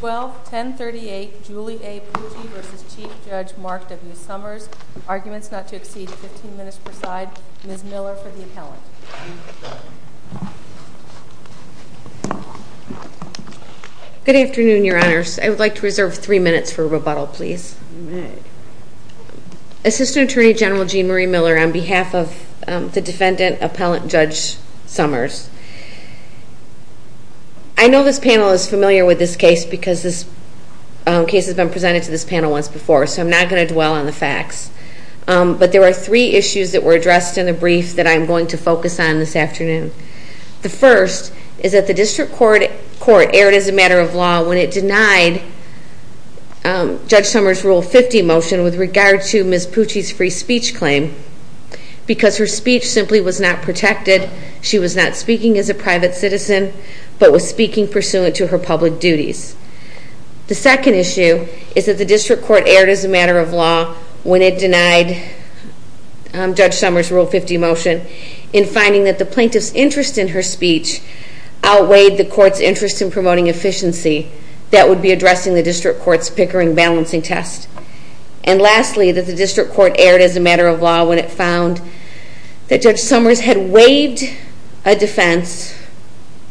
12-1038, Julie A. Pucci v. Chief Judge Mark W. Somers. Arguments not to exceed 15 minutes per side. Ms. Miller for the appellant. Good afternoon, Your Honors. I would like to reserve three minutes for rebuttal, please. Assistant Attorney General Jean Marie Miller on behalf of the defendant, Appellant Judge Somers. I know this panel is familiar with this case because this case has been presented to this panel once before, so I'm not going to dwell on the facts. But there are three issues that were addressed in the brief that I'm going to focus on this afternoon. The first is that the District Court erred as a matter of law when it denied Judge Somers' Rule 50 motion with regard to Ms. Pucci's free speech claim because her speech simply was not protected. She was not speaking as a private citizen, but was speaking pursuant to her public duties. The second issue is that the District Court erred as a matter of law when it denied Judge Somers' Rule 50 motion in finding that the plaintiff's interest in her speech outweighed the court's interest in promoting efficiency that would be addressing the District Court's Pickering balancing test. And lastly, that the District Court erred as a matter of law when it found that Judge Somers had waived a defense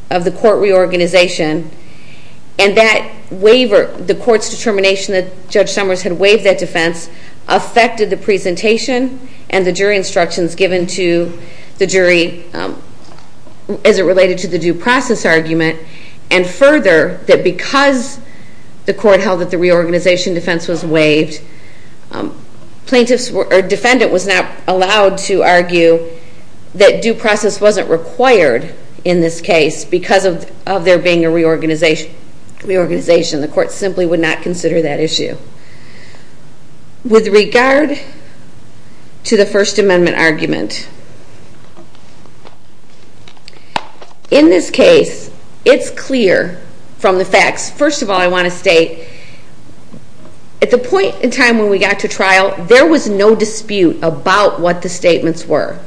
of the court reorganization, and that waiver, the court's determination that Judge Somers had waived that defense affected the presentation and the jury instructions given to the jury as it related to the due process argument. And further, that because the court held that the reorganization defense was waived, plaintiff's, or defendant was not allowed to argue that due process wasn't required in this case because of there being a reorganization. The court simply would not consider that issue. With regard to the First Amendment argument, in this case, it's clear from the facts. First of all, I want to state, at the point in time when we got to trial, there was no dispute about what the statements were.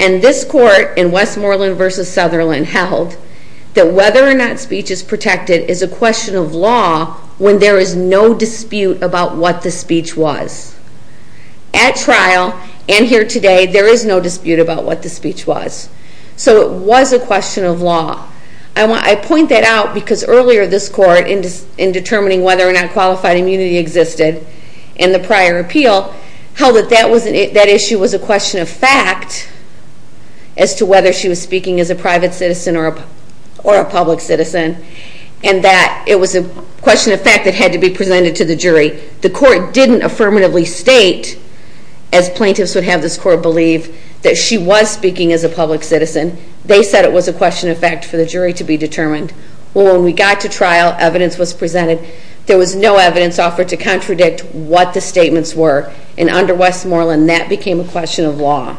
And this court in Westmoreland v. Sutherland held that whether or not speech is protected is a question of law when there is no dispute about what the speech was. At trial, and here today, there is no dispute about what the speech was. So it was a question of law. I point that out because earlier this court, in determining whether or not qualified immunity existed in the prior appeal, held that that issue was a question of fact as to whether she was speaking as a private citizen or a public citizen, and that it was a question of fact that had to be presented to the jury. The court didn't affirmatively state, as plaintiffs would have this court believe, that she was speaking as a public citizen. They said it was a question of fact for the jury to be determined. Well, when we got to trial, evidence was presented. There was no evidence offered to contradict what the statements were. And under Westmoreland, that became a question of law.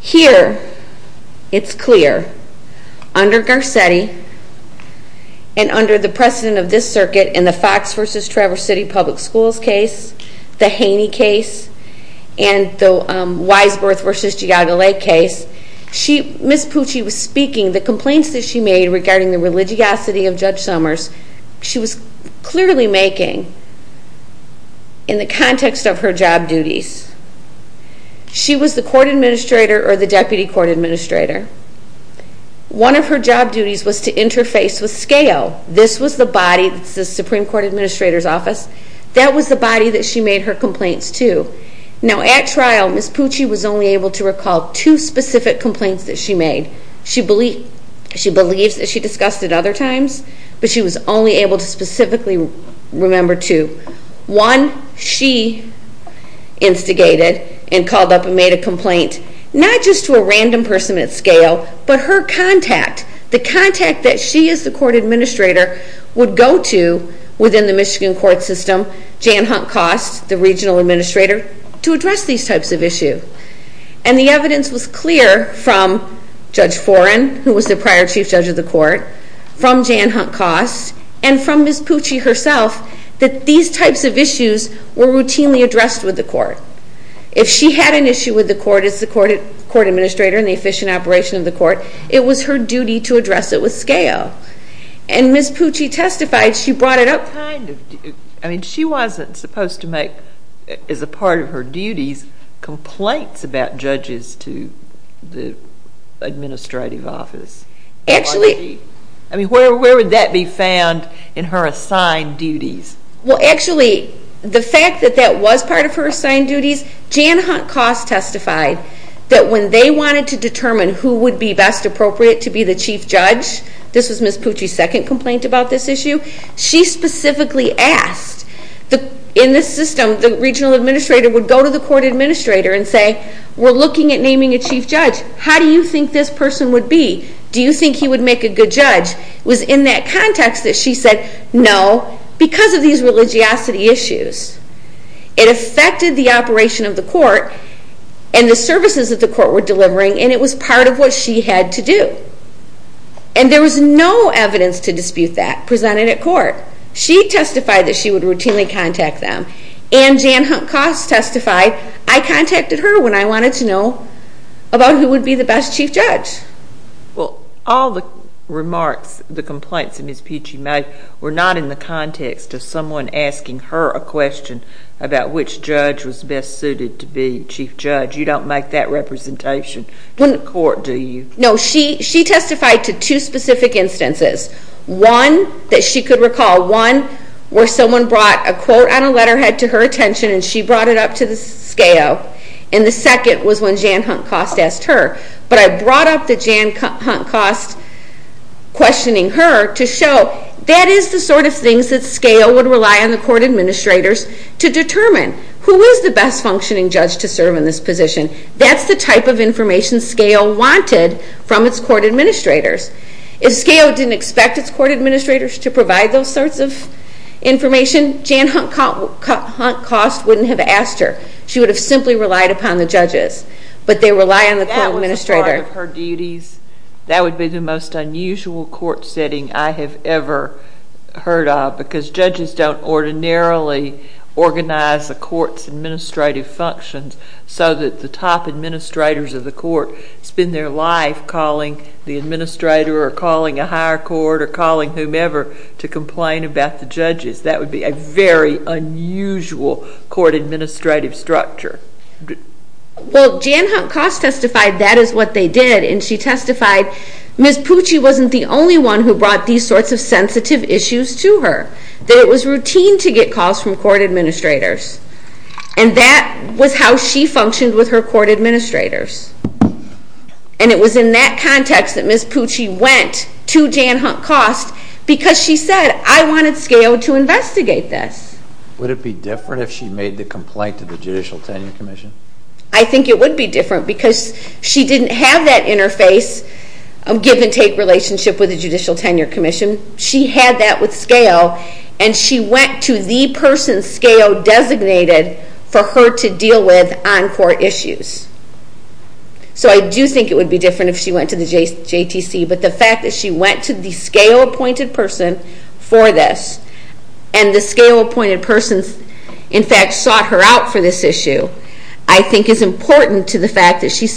Here, it's clear. Under Garcetti, and under the precedent of this circuit in the Fox v. Traverse City Public Schools case, the Haney case, and the Wise Birth v. Giada Lake case, Ms. Pucci was speaking, the complaints that she made regarding the religiosity of Judge Summers, she was clearly making in the context of her job duties. She was the court administrator or the deputy court administrator. One of her job duties was to interface with SCALE. This was the body that's the Supreme Court Administrator's Office. That was the body that she made her complaints to. Now, at trial, Ms. Pucci was only able to recall two specific complaints that she made. She believes, as she discussed at other times, but she was only able to specifically remember two. One, she instigated and called up and made a complaint, not just to a random person at SCALE, but her contact, the contact that she as the court administrator would go to within the Michigan court system, Jan Hunt Cost, the regional administrator, to address these types of issues. And the evidence was clear from Judge Foran, who was the prior chief judge of the court, from Jan Hunt Cost, and from Ms. Pucci herself, that these types of issues were routinely addressed with the court. If she had an issue with the court as the court administrator and the efficient operation of the court, it was her duty to address it with SCALE. And Ms. Pucci testified. She brought it up kind of. I mean, she wasn't supposed to make, as a part of her duties, complaints about judges to the administrative office. I mean, where would that be found in her assigned duties? Well, actually, the fact that that was part of her assigned duties, Jan Hunt Cost testified that when they wanted to determine who would be best appropriate to be the chief judge, this was Ms. Pucci's second complaint about this issue, she specifically asked, in this system, the regional administrator would go to the court administrator and say, we're looking at naming a chief judge. How do you think this person would be? Do you think he would make a good judge? It was in that context that she said, no, because of these religiosity issues. It affected the operation of the court and the services that the court were delivering, and it was part of what she had to do. And there was no evidence to dispute that presented at court. She testified that she would routinely contact them. And Jan Hunt Cost testified. I contacted her when I wanted to know about who would be the best chief judge. Well, all the remarks, the complaints that Ms. Pucci made, were not in the context of someone asking her a question about which judge was best suited to be chief judge. You don't make that representation in court, do you? No. She testified to two specific instances, one that she could recall, one where someone brought a quote on a letterhead to her attention and she brought it up to the SCAO, and the second was when Jan Hunt Cost asked her. But I brought up the Jan Hunt Cost questioning her to show that is the sort of things that SCAO would rely on the court administrators to determine. Who is the best functioning judge to serve in this position? That's the type of information SCAO wanted from its court administrators. If SCAO didn't expect its court administrators to provide those sorts of information, Jan Hunt Cost wouldn't have asked her. She would have simply relied upon the judges, but they rely on the court administrator. That was a part of her duties. That would be the most unusual court setting I have ever heard of because judges don't ordinarily organize the court's administrative functions so that the top administrators of the court spend their life calling the administrator or calling a higher court or calling whomever to complain about the judges. That would be a very unusual court administrative structure. Well, Jan Hunt Cost testified that is what they did, and she testified Ms. Pucci wasn't the only one who brought these sorts of sensitive issues to her, that it was routine to get calls from court administrators, and that was how she functioned with her court administrators. And it was in that context that Ms. Pucci went to Jan Hunt Cost because she said, I wanted SCAO to investigate this. Would it be different if she made the complaint to the Judicial Tenure Commission? I think it would be different because she didn't have that interface of give-and-take relationship with the Judicial Tenure Commission. She had that with SCAO, and she went to the person SCAO designated for her to deal with on court issues. So I do think it would be different if she went to the JTC, but the fact that she went to the SCAO-appointed person for this, and the SCAO-appointed person, in fact, sought her out for this issue, I think is important to the fact that she's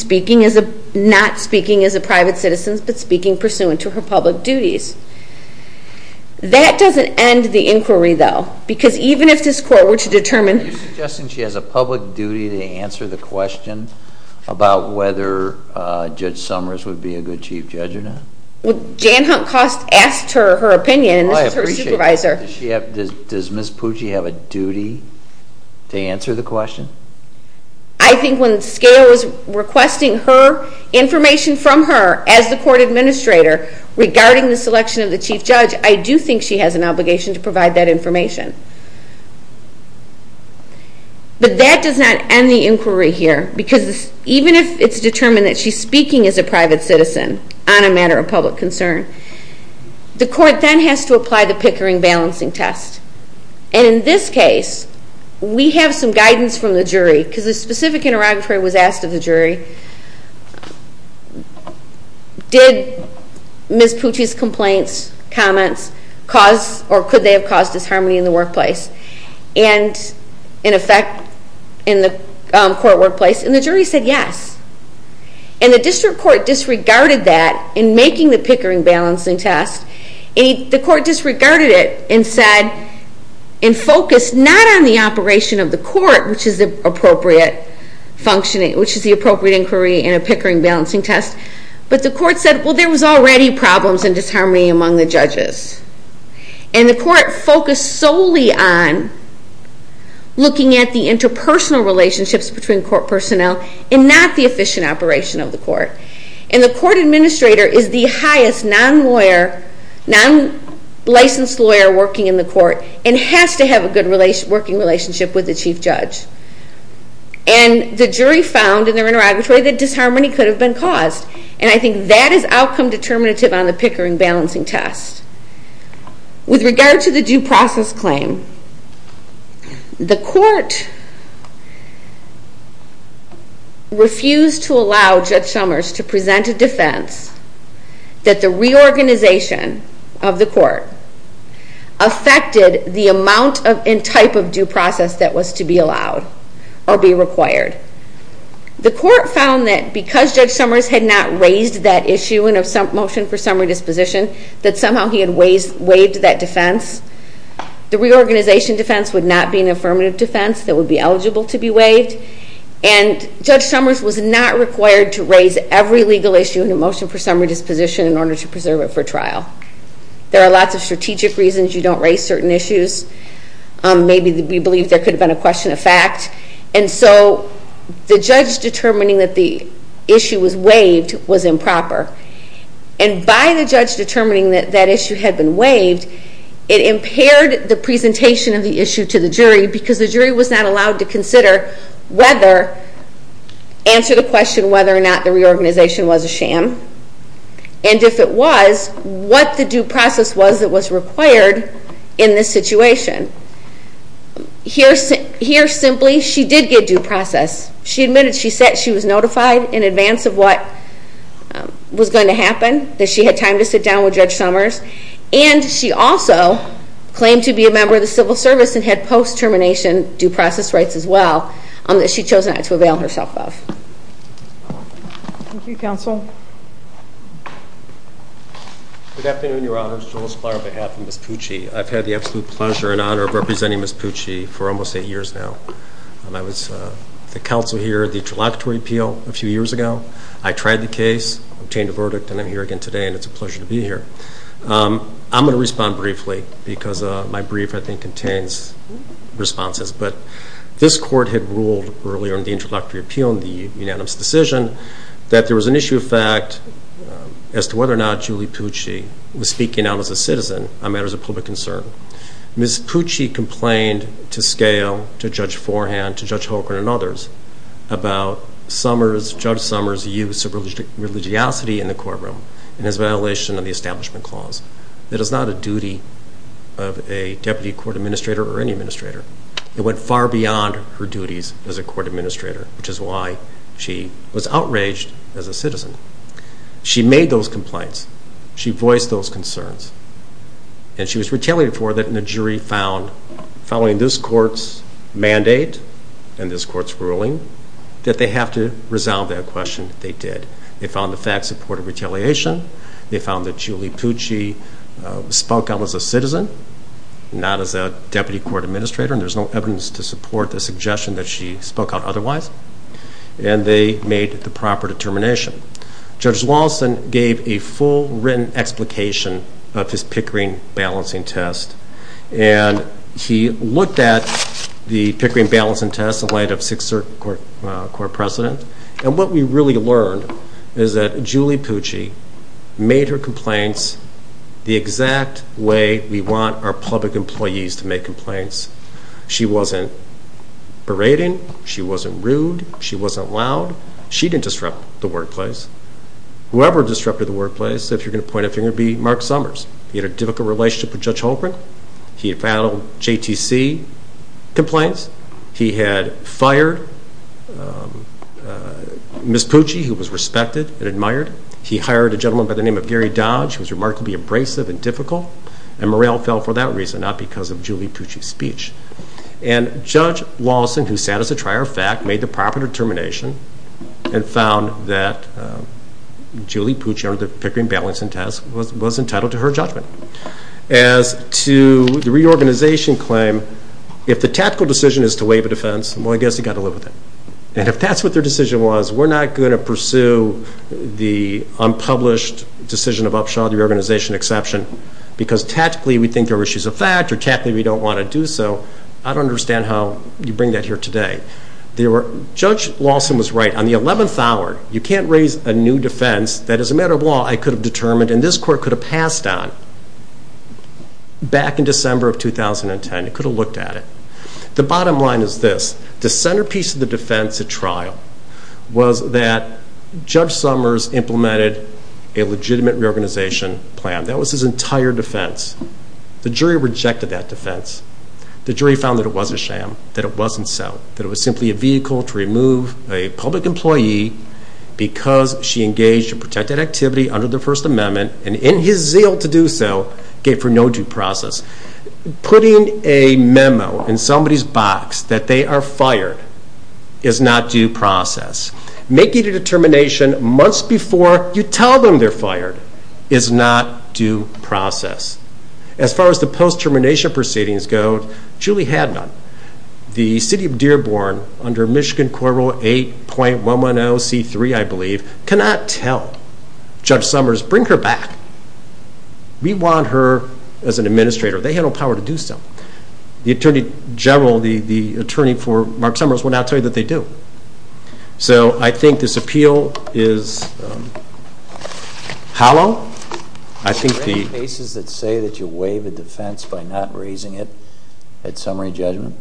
not speaking as a private citizen but speaking pursuant to her public duties. That doesn't end the inquiry, though, because even if this court were to determine Are you suggesting she has a public duty to answer the question about whether Judge Summers would be a good chief judge or not? Jan Hunt Cost asked her opinion, and this is her supervisor. Does Ms. Pucci have a duty to answer the question? I think when SCAO is requesting information from her as the court administrator regarding the selection of the chief judge, I do think she has an obligation to provide that information. But that does not end the inquiry here, because even if it's determined that she's speaking as a private citizen on a matter of public concern, the court then has to apply the Pickering balancing test. And in this case, we have some guidance from the jury, because a specific interrogatory was asked of the jury, Did Ms. Pucci's complaints, comments, cause, or could they have caused disharmony in the workplace? And, in effect, in the court workplace? And the jury said yes. And the district court disregarded that in making the Pickering balancing test. The court disregarded it and said, and focused not on the operation of the court, which is the appropriate function, which is the appropriate inquiry in a Pickering balancing test, but the court said, Well, there was already problems and disharmony among the judges. And the court focused solely on looking at the interpersonal relationships between court personnel and not the efficient operation of the court. And the court administrator is the highest non-lawyer, non-licensed lawyer working in the court and has to have a good working relationship with the chief judge. And the jury found in their interrogatory that disharmony could have been caused. And I think that is outcome determinative on the Pickering balancing test. With regard to the due process claim, the court refused to allow Judge Summers to present a defense that the reorganization of the court affected the amount and type of due process that was to be allowed or be required. The court found that because Judge Summers had not raised that issue in a motion for summary disposition, that somehow he had waived that defense. The reorganization defense would not be an affirmative defense that would be eligible to be waived. And Judge Summers was not required to raise every legal issue in a motion for summary disposition in order to preserve it for trial. There are lots of strategic reasons you don't raise certain issues. Maybe we believe there could have been a question of fact. And so the judge determining that the issue was waived was improper. And by the judge determining that that issue had been waived, it impaired the presentation of the issue to the jury because the jury was not allowed to answer the question whether or not the reorganization was a sham, and if it was, what the due process was that was required in this situation. Here simply, she did get due process. She admitted she was notified in advance of what was going to happen, that she had time to sit down with Judge Summers, and she also claimed to be a member of the civil service and had post-termination due process rights as well that she chose not to avail herself of. Thank you, counsel. Good afternoon, Your Honors. I'm Judge Joel Splier on behalf of Ms. Pucci. I've had the absolute pleasure and honor of representing Ms. Pucci for almost eight years now. I was the counsel here at the Interlocutory Appeal a few years ago. I tried the case, obtained a verdict, and I'm here again today, and it's a pleasure to be here. I'm going to respond briefly because my brief, I think, contains responses. But this Court had ruled earlier in the Interlocutory Appeal in the unanimous decision that there was an issue of fact as to whether or not Julie Pucci was speaking out as a citizen on matters of public concern. Ms. Pucci complained to scale, to Judge Forehand, to Judge Holcren and others, about Judge Summers' use of religiosity in the courtroom and his violation of the Establishment Clause. That is not a duty of a deputy court administrator or any administrator. It went far beyond her duties as a court administrator, which is why she was outraged as a citizen. She made those complaints. She voiced those concerns. And she was retaliated for that, and the jury found, following this Court's mandate and this Court's ruling, that they have to resolve that question. They did. They found the fact supported retaliation. They found that Julie Pucci spoke out as a citizen, not as a deputy court administrator, and there's no evidence to support the suggestion that she spoke out otherwise. And they made the proper determination. Judge Lawson gave a full written explication of his Pickering balancing test, and he looked at the Pickering balancing test in light of Sixth Circuit Court precedent, and what we really learned is that Julie Pucci made her complaints the exact way we want our public employees to make complaints. She wasn't berating. She wasn't rude. She wasn't loud. She didn't disrupt the workplace. Whoever disrupted the workplace, if you're going to point a finger, it would be Mark Summers. He had a difficult relationship with Judge Holbrook. He had filed JTC complaints. He had fired Ms. Pucci, who was respected and admired. He hired a gentleman by the name of Gary Dodge, who was remarkably abrasive and difficult, and morale fell for that reason, not because of Julie Pucci's speech. And Judge Lawson, who sat as a trier of fact, made the proper determination and found that Julie Pucci, under the Pickering balancing test, was entitled to her judgment. As to the reorganization claim, if the tactical decision is to waive a defense, well, I guess you've got to live with it. And if that's what their decision was, we're not going to pursue the unpublished decision of upshot, the reorganization exception, because tactically we think there are issues of fact, or tactically we don't want to do so. I don't understand how you bring that here today. Judge Lawson was right. On the 11th hour, you can't raise a new defense that, as a matter of law, I could have determined and this Court could have passed on back in December of 2010. It could have looked at it. The bottom line is this. The centerpiece of the defense at trial was that Judge Summers implemented a legitimate reorganization plan. That was his entire defense. The jury rejected that defense. The jury found that it was a sham, that it wasn't so, that it was simply a vehicle to remove a public employee because she engaged in protected activity under the First Amendment and in his zeal to do so, gave for no due process. Putting a memo in somebody's box that they are fired is not due process. Making a determination months before you tell them they're fired is not due process. As far as the post-termination proceedings go, Julie had none. The city of Dearborn, under Michigan Corral 8.110C3, I believe, cannot tell. Judge Summers, bring her back. We want her as an administrator. They have no power to do so. The Attorney General, the attorney for Mark Summers, will not tell you that they do. So I think this appeal is hollow. Are there any cases that say that you waive a defense by not raising it at summary judgment?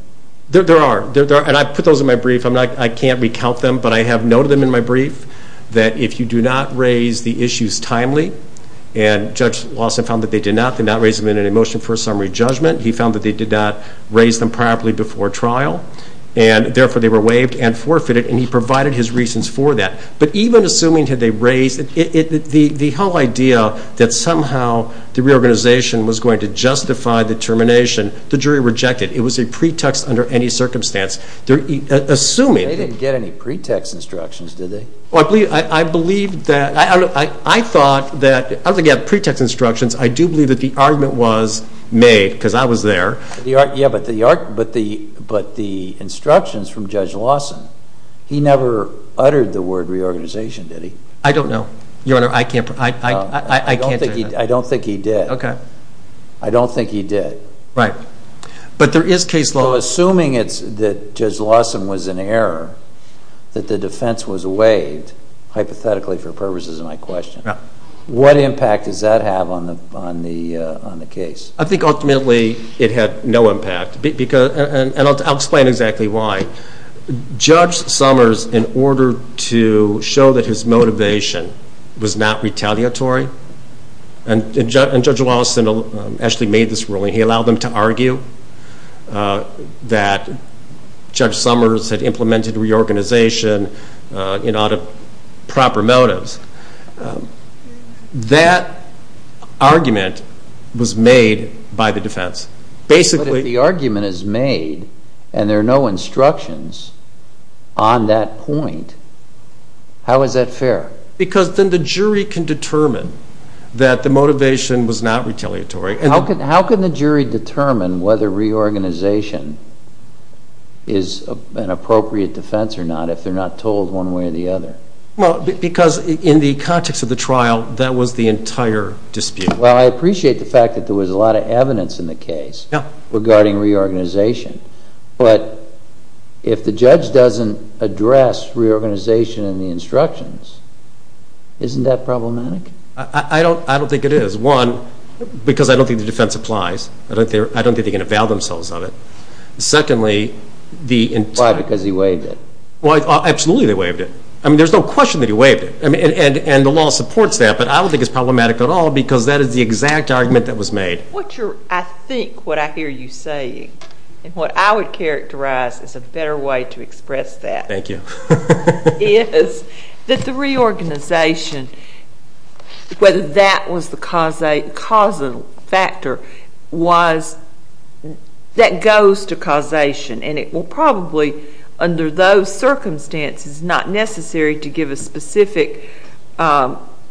There are, and I put those in my brief. I can't recount them, but I have noted them in my brief, that if you do not raise the issues timely, and Judge Lawson found that they did not, they did not raise them in a motion for a summary judgment. He found that they did not raise them properly before trial, and therefore they were waived and forfeited, and he provided his reasons for that. But even assuming that they raised it, the whole idea that somehow the reorganization was going to justify the termination, the jury rejected it. It was a pretext under any circumstance. They didn't get any pretext instructions, did they? I thought that, I don't think they had pretext instructions. I do believe that the argument was made, because I was there. But the instructions from Judge Lawson, he never uttered the word reorganization, did he? I don't know. Your Honor, I can't tell you that. I don't think he did. Okay. I don't think he did. Right. But there is case law. So assuming that Judge Lawson was in error, that the defense was waived, hypothetically for purposes of my question, what impact does that have on the case? I think ultimately it had no impact. And I'll explain exactly why. Judge Summers, in order to show that his motivation was not retaliatory, and Judge Lawson actually made this ruling. He allowed them to argue that Judge Summers had implemented reorganization out of proper motives. That argument was made by the defense. But if the argument is made and there are no instructions on that point, how is that fair? Because then the jury can determine that the motivation was not retaliatory. How can the jury determine whether reorganization is an appropriate defense or not, if they're not told one way or the other? Well, because in the context of the trial, that was the entire dispute. Well, I appreciate the fact that there was a lot of evidence in the case regarding reorganization. But if the judge doesn't address reorganization in the instructions, isn't that problematic? I don't think it is. One, because I don't think the defense applies. I don't think they can avail themselves of it. Secondly, the entire... Why? Because he waived it. Absolutely they waived it. I mean, there's no question that he waived it, and the law supports that. But I don't think it's problematic at all because that is the exact argument that was made. I think what I hear you saying, and what I would characterize as a better way to express that. Thank you. Is that the reorganization, whether that was the causal factor, that goes to causation. And it will probably, under those circumstances, not necessary to give a specific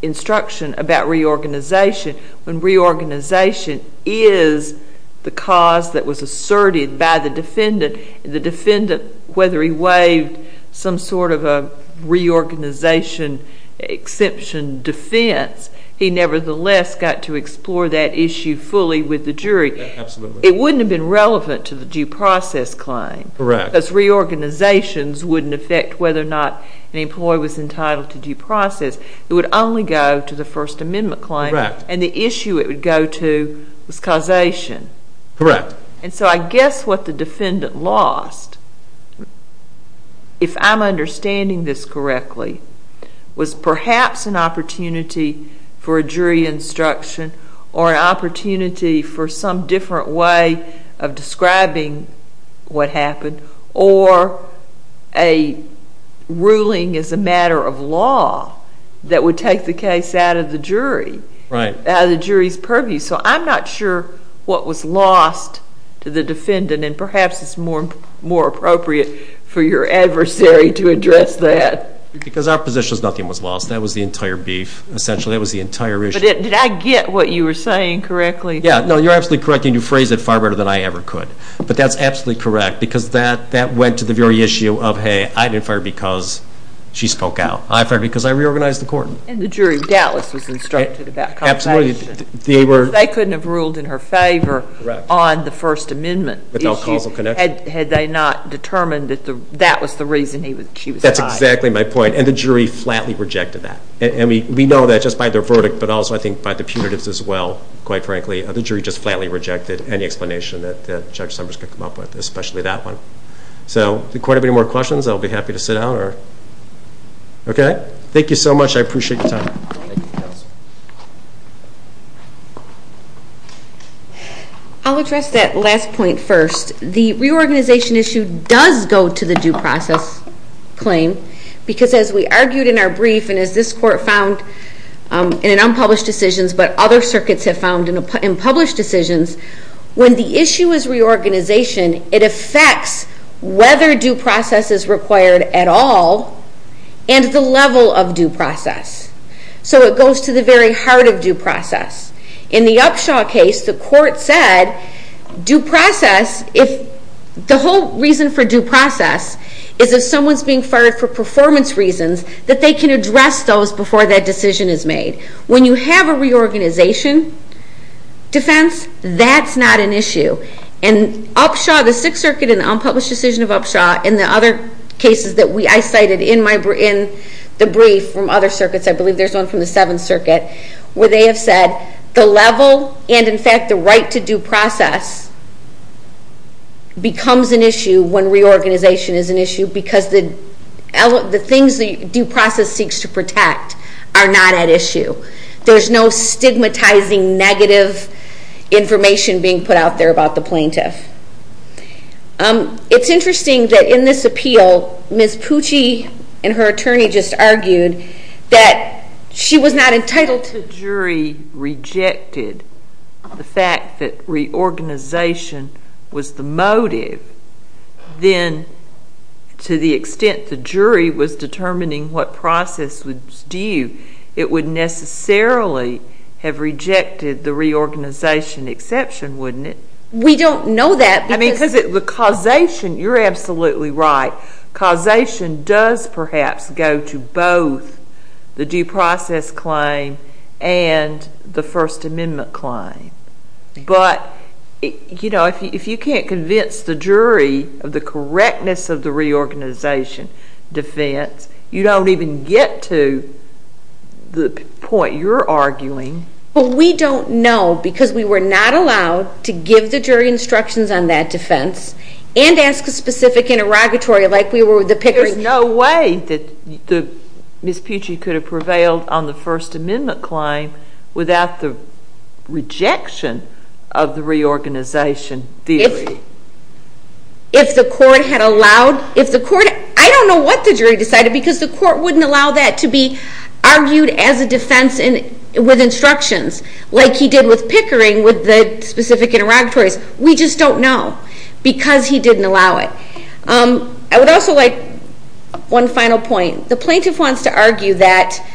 instruction about reorganization. When reorganization is the cause that was asserted by the defendant, the defendant, whether he waived some sort of a reorganization exception defense, he nevertheless got to explore that issue fully with the jury. Absolutely. It wouldn't have been relevant to the due process claim. Correct. Because reorganizations wouldn't affect whether or not an employee was entitled to due process. It would only go to the First Amendment claim. Correct. And the issue it would go to was causation. Correct. And so I guess what the defendant lost, if I'm understanding this correctly, was perhaps an opportunity for a jury instruction or an opportunity for some different way of describing what happened or a ruling as a matter of law that would take the case out of the jury. Right. Out of the jury's purview. So I'm not sure what was lost to the defendant, and perhaps it's more appropriate for your adversary to address that. Because our position is nothing was lost. That was the entire beef, essentially. That was the entire issue. But did I get what you were saying correctly? Yeah. No, you're absolutely correct, and you phrased it far better than I ever could. But that's absolutely correct because that went to the very issue of, hey, I didn't fire because she spoke out. I fired because I reorganized the court. And the jury doubtless was instructed about causation. Absolutely. Because they couldn't have ruled in her favor on the First Amendment issue had they not determined that that was the reason she was fired. That's exactly my point. And the jury flatly rejected that. And we know that just by their verdict, but also, I think, by the punitives as well, quite frankly. The jury just flatly rejected any explanation that Judge Summers could come up with, especially that one. So does the court have any more questions? I'll be happy to sit down. Okay. Thank you so much. I appreciate your time. I'll address that last point first. The reorganization issue does go to the due process claim because, as we argued in our brief and as this court found in unpublished decisions, but other circuits have found in published decisions, when the issue is reorganization, it affects whether due process is required at all and the level of due process. So it goes to the very heart of due process. In the Upshaw case, the court said due process, if the whole reason for due process is if someone's being fired for performance reasons, that they can address those before that decision is made. When you have a reorganization defense, that's not an issue. And Upshaw, the Sixth Circuit in the unpublished decision of Upshaw, and the other cases that I cited in the brief from other circuits, I believe there's one from the Seventh Circuit, where they have said the level and, in fact, the right to due process becomes an issue when reorganization is an issue because the things the due process seeks to protect are not at issue. There's no stigmatizing negative information being put out there about the plaintiff. It's interesting that in this appeal, Ms. Pucci and her attorney just argued that she was not entitled to. If the jury rejected the fact that reorganization was the motive, then to the extent the jury was determining what process was due, it would necessarily have rejected the reorganization exception, wouldn't it? We don't know that. You're absolutely right. Causation does perhaps go to both the due process claim and the First Amendment claim. But if you can't convince the jury of the correctness of the reorganization defense, you don't even get to the point you're arguing. We don't know because we were not allowed to give the jury instructions on that defense and ask a specific interrogatory like we were with the Pickering. There's no way that Ms. Pucci could have prevailed on the First Amendment claim without the rejection of the reorganization theory. If the court had allowed ñ I don't know what the jury decided because the court wouldn't allow that to be argued as a defense with instructions like he did with Pickering with the specific interrogatories. We just don't know because he didn't allow it. I would also like one final point. The plaintiff wants to argue that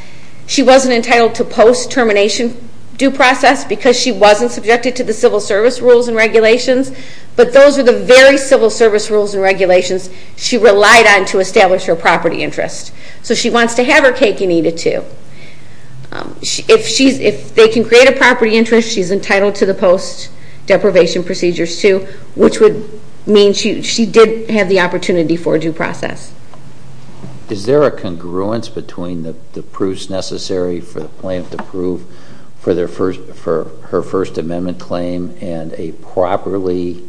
she wasn't entitled to post-termination due process because she wasn't subjected to the civil service rules and regulations, but those are the very civil service rules and regulations she relied on to establish her property interest. So she wants to have her cake and eat it too. If they can create a property interest, she's entitled to the post-deprivation procedures too, which would mean she did have the opportunity for due process. Is there a congruence between the proofs necessary for the plaintiff to prove for her First Amendment claim and a properly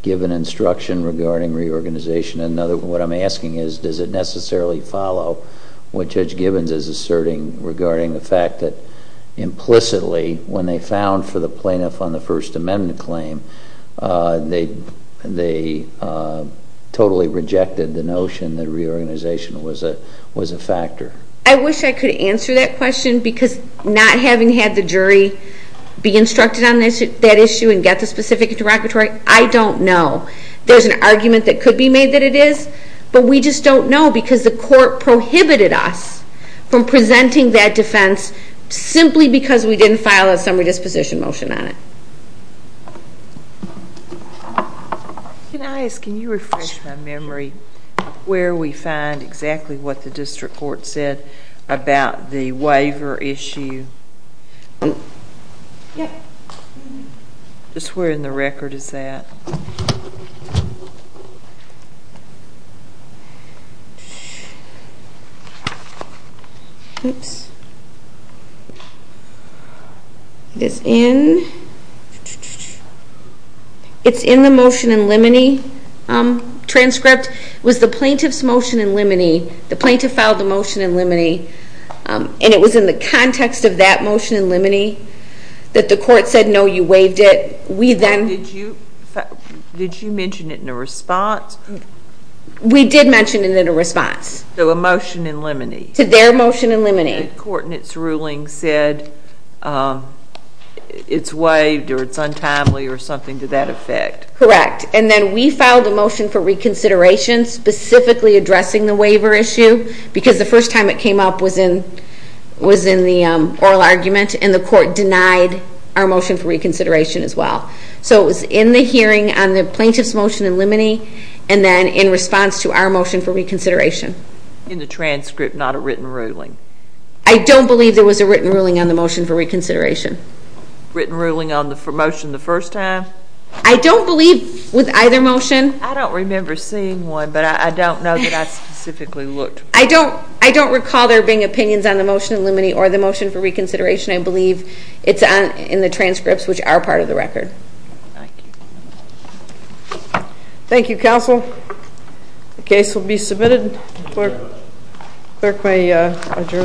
given instruction regarding reorganization? In other words, what I'm asking is does it necessarily follow what Judge Gibbons is asserting regarding the fact that implicitly, when they found for the plaintiff on the First Amendment claim, they totally rejected the notion that reorganization was a factor. I wish I could answer that question because not having had the jury be instructed on that issue and get the specific interrogatory, I don't know. There's an argument that could be made that it is, but we just don't know because the court prohibited us from presenting that defense simply because we didn't file a summary disposition motion on it. Can I ask, can you refresh my memory, where we find exactly what the district court said about the waiver issue? Yes. Just where in the record is that? It is in the motion in limine transcript. It was the plaintiff's motion in limine, the plaintiff filed the motion in limine, and it was in the context of that motion in limine that the court said, no, you waived it. Did you mention it in a response? We did mention it in a response. So a motion in limine. To their motion in limine. The court in its ruling said it's waived or it's untimely or something to that effect. Correct, and then we filed a motion for reconsideration specifically addressing the waiver issue because the first time it came up was in the oral argument and the court denied our motion for reconsideration as well. So it was in the hearing on the plaintiff's motion in limine and then in response to our motion for reconsideration. In the transcript, not a written ruling. I don't believe there was a written ruling on the motion for reconsideration. Written ruling on the motion the first time? I don't believe with either motion. I don't remember seeing one, but I don't know that I specifically looked. I don't recall there being opinions on the motion in limine or the motion for reconsideration. I believe it's in the transcripts, which are part of the record. Thank you. Thank you, counsel. The case will be submitted. Clerk may adjourn.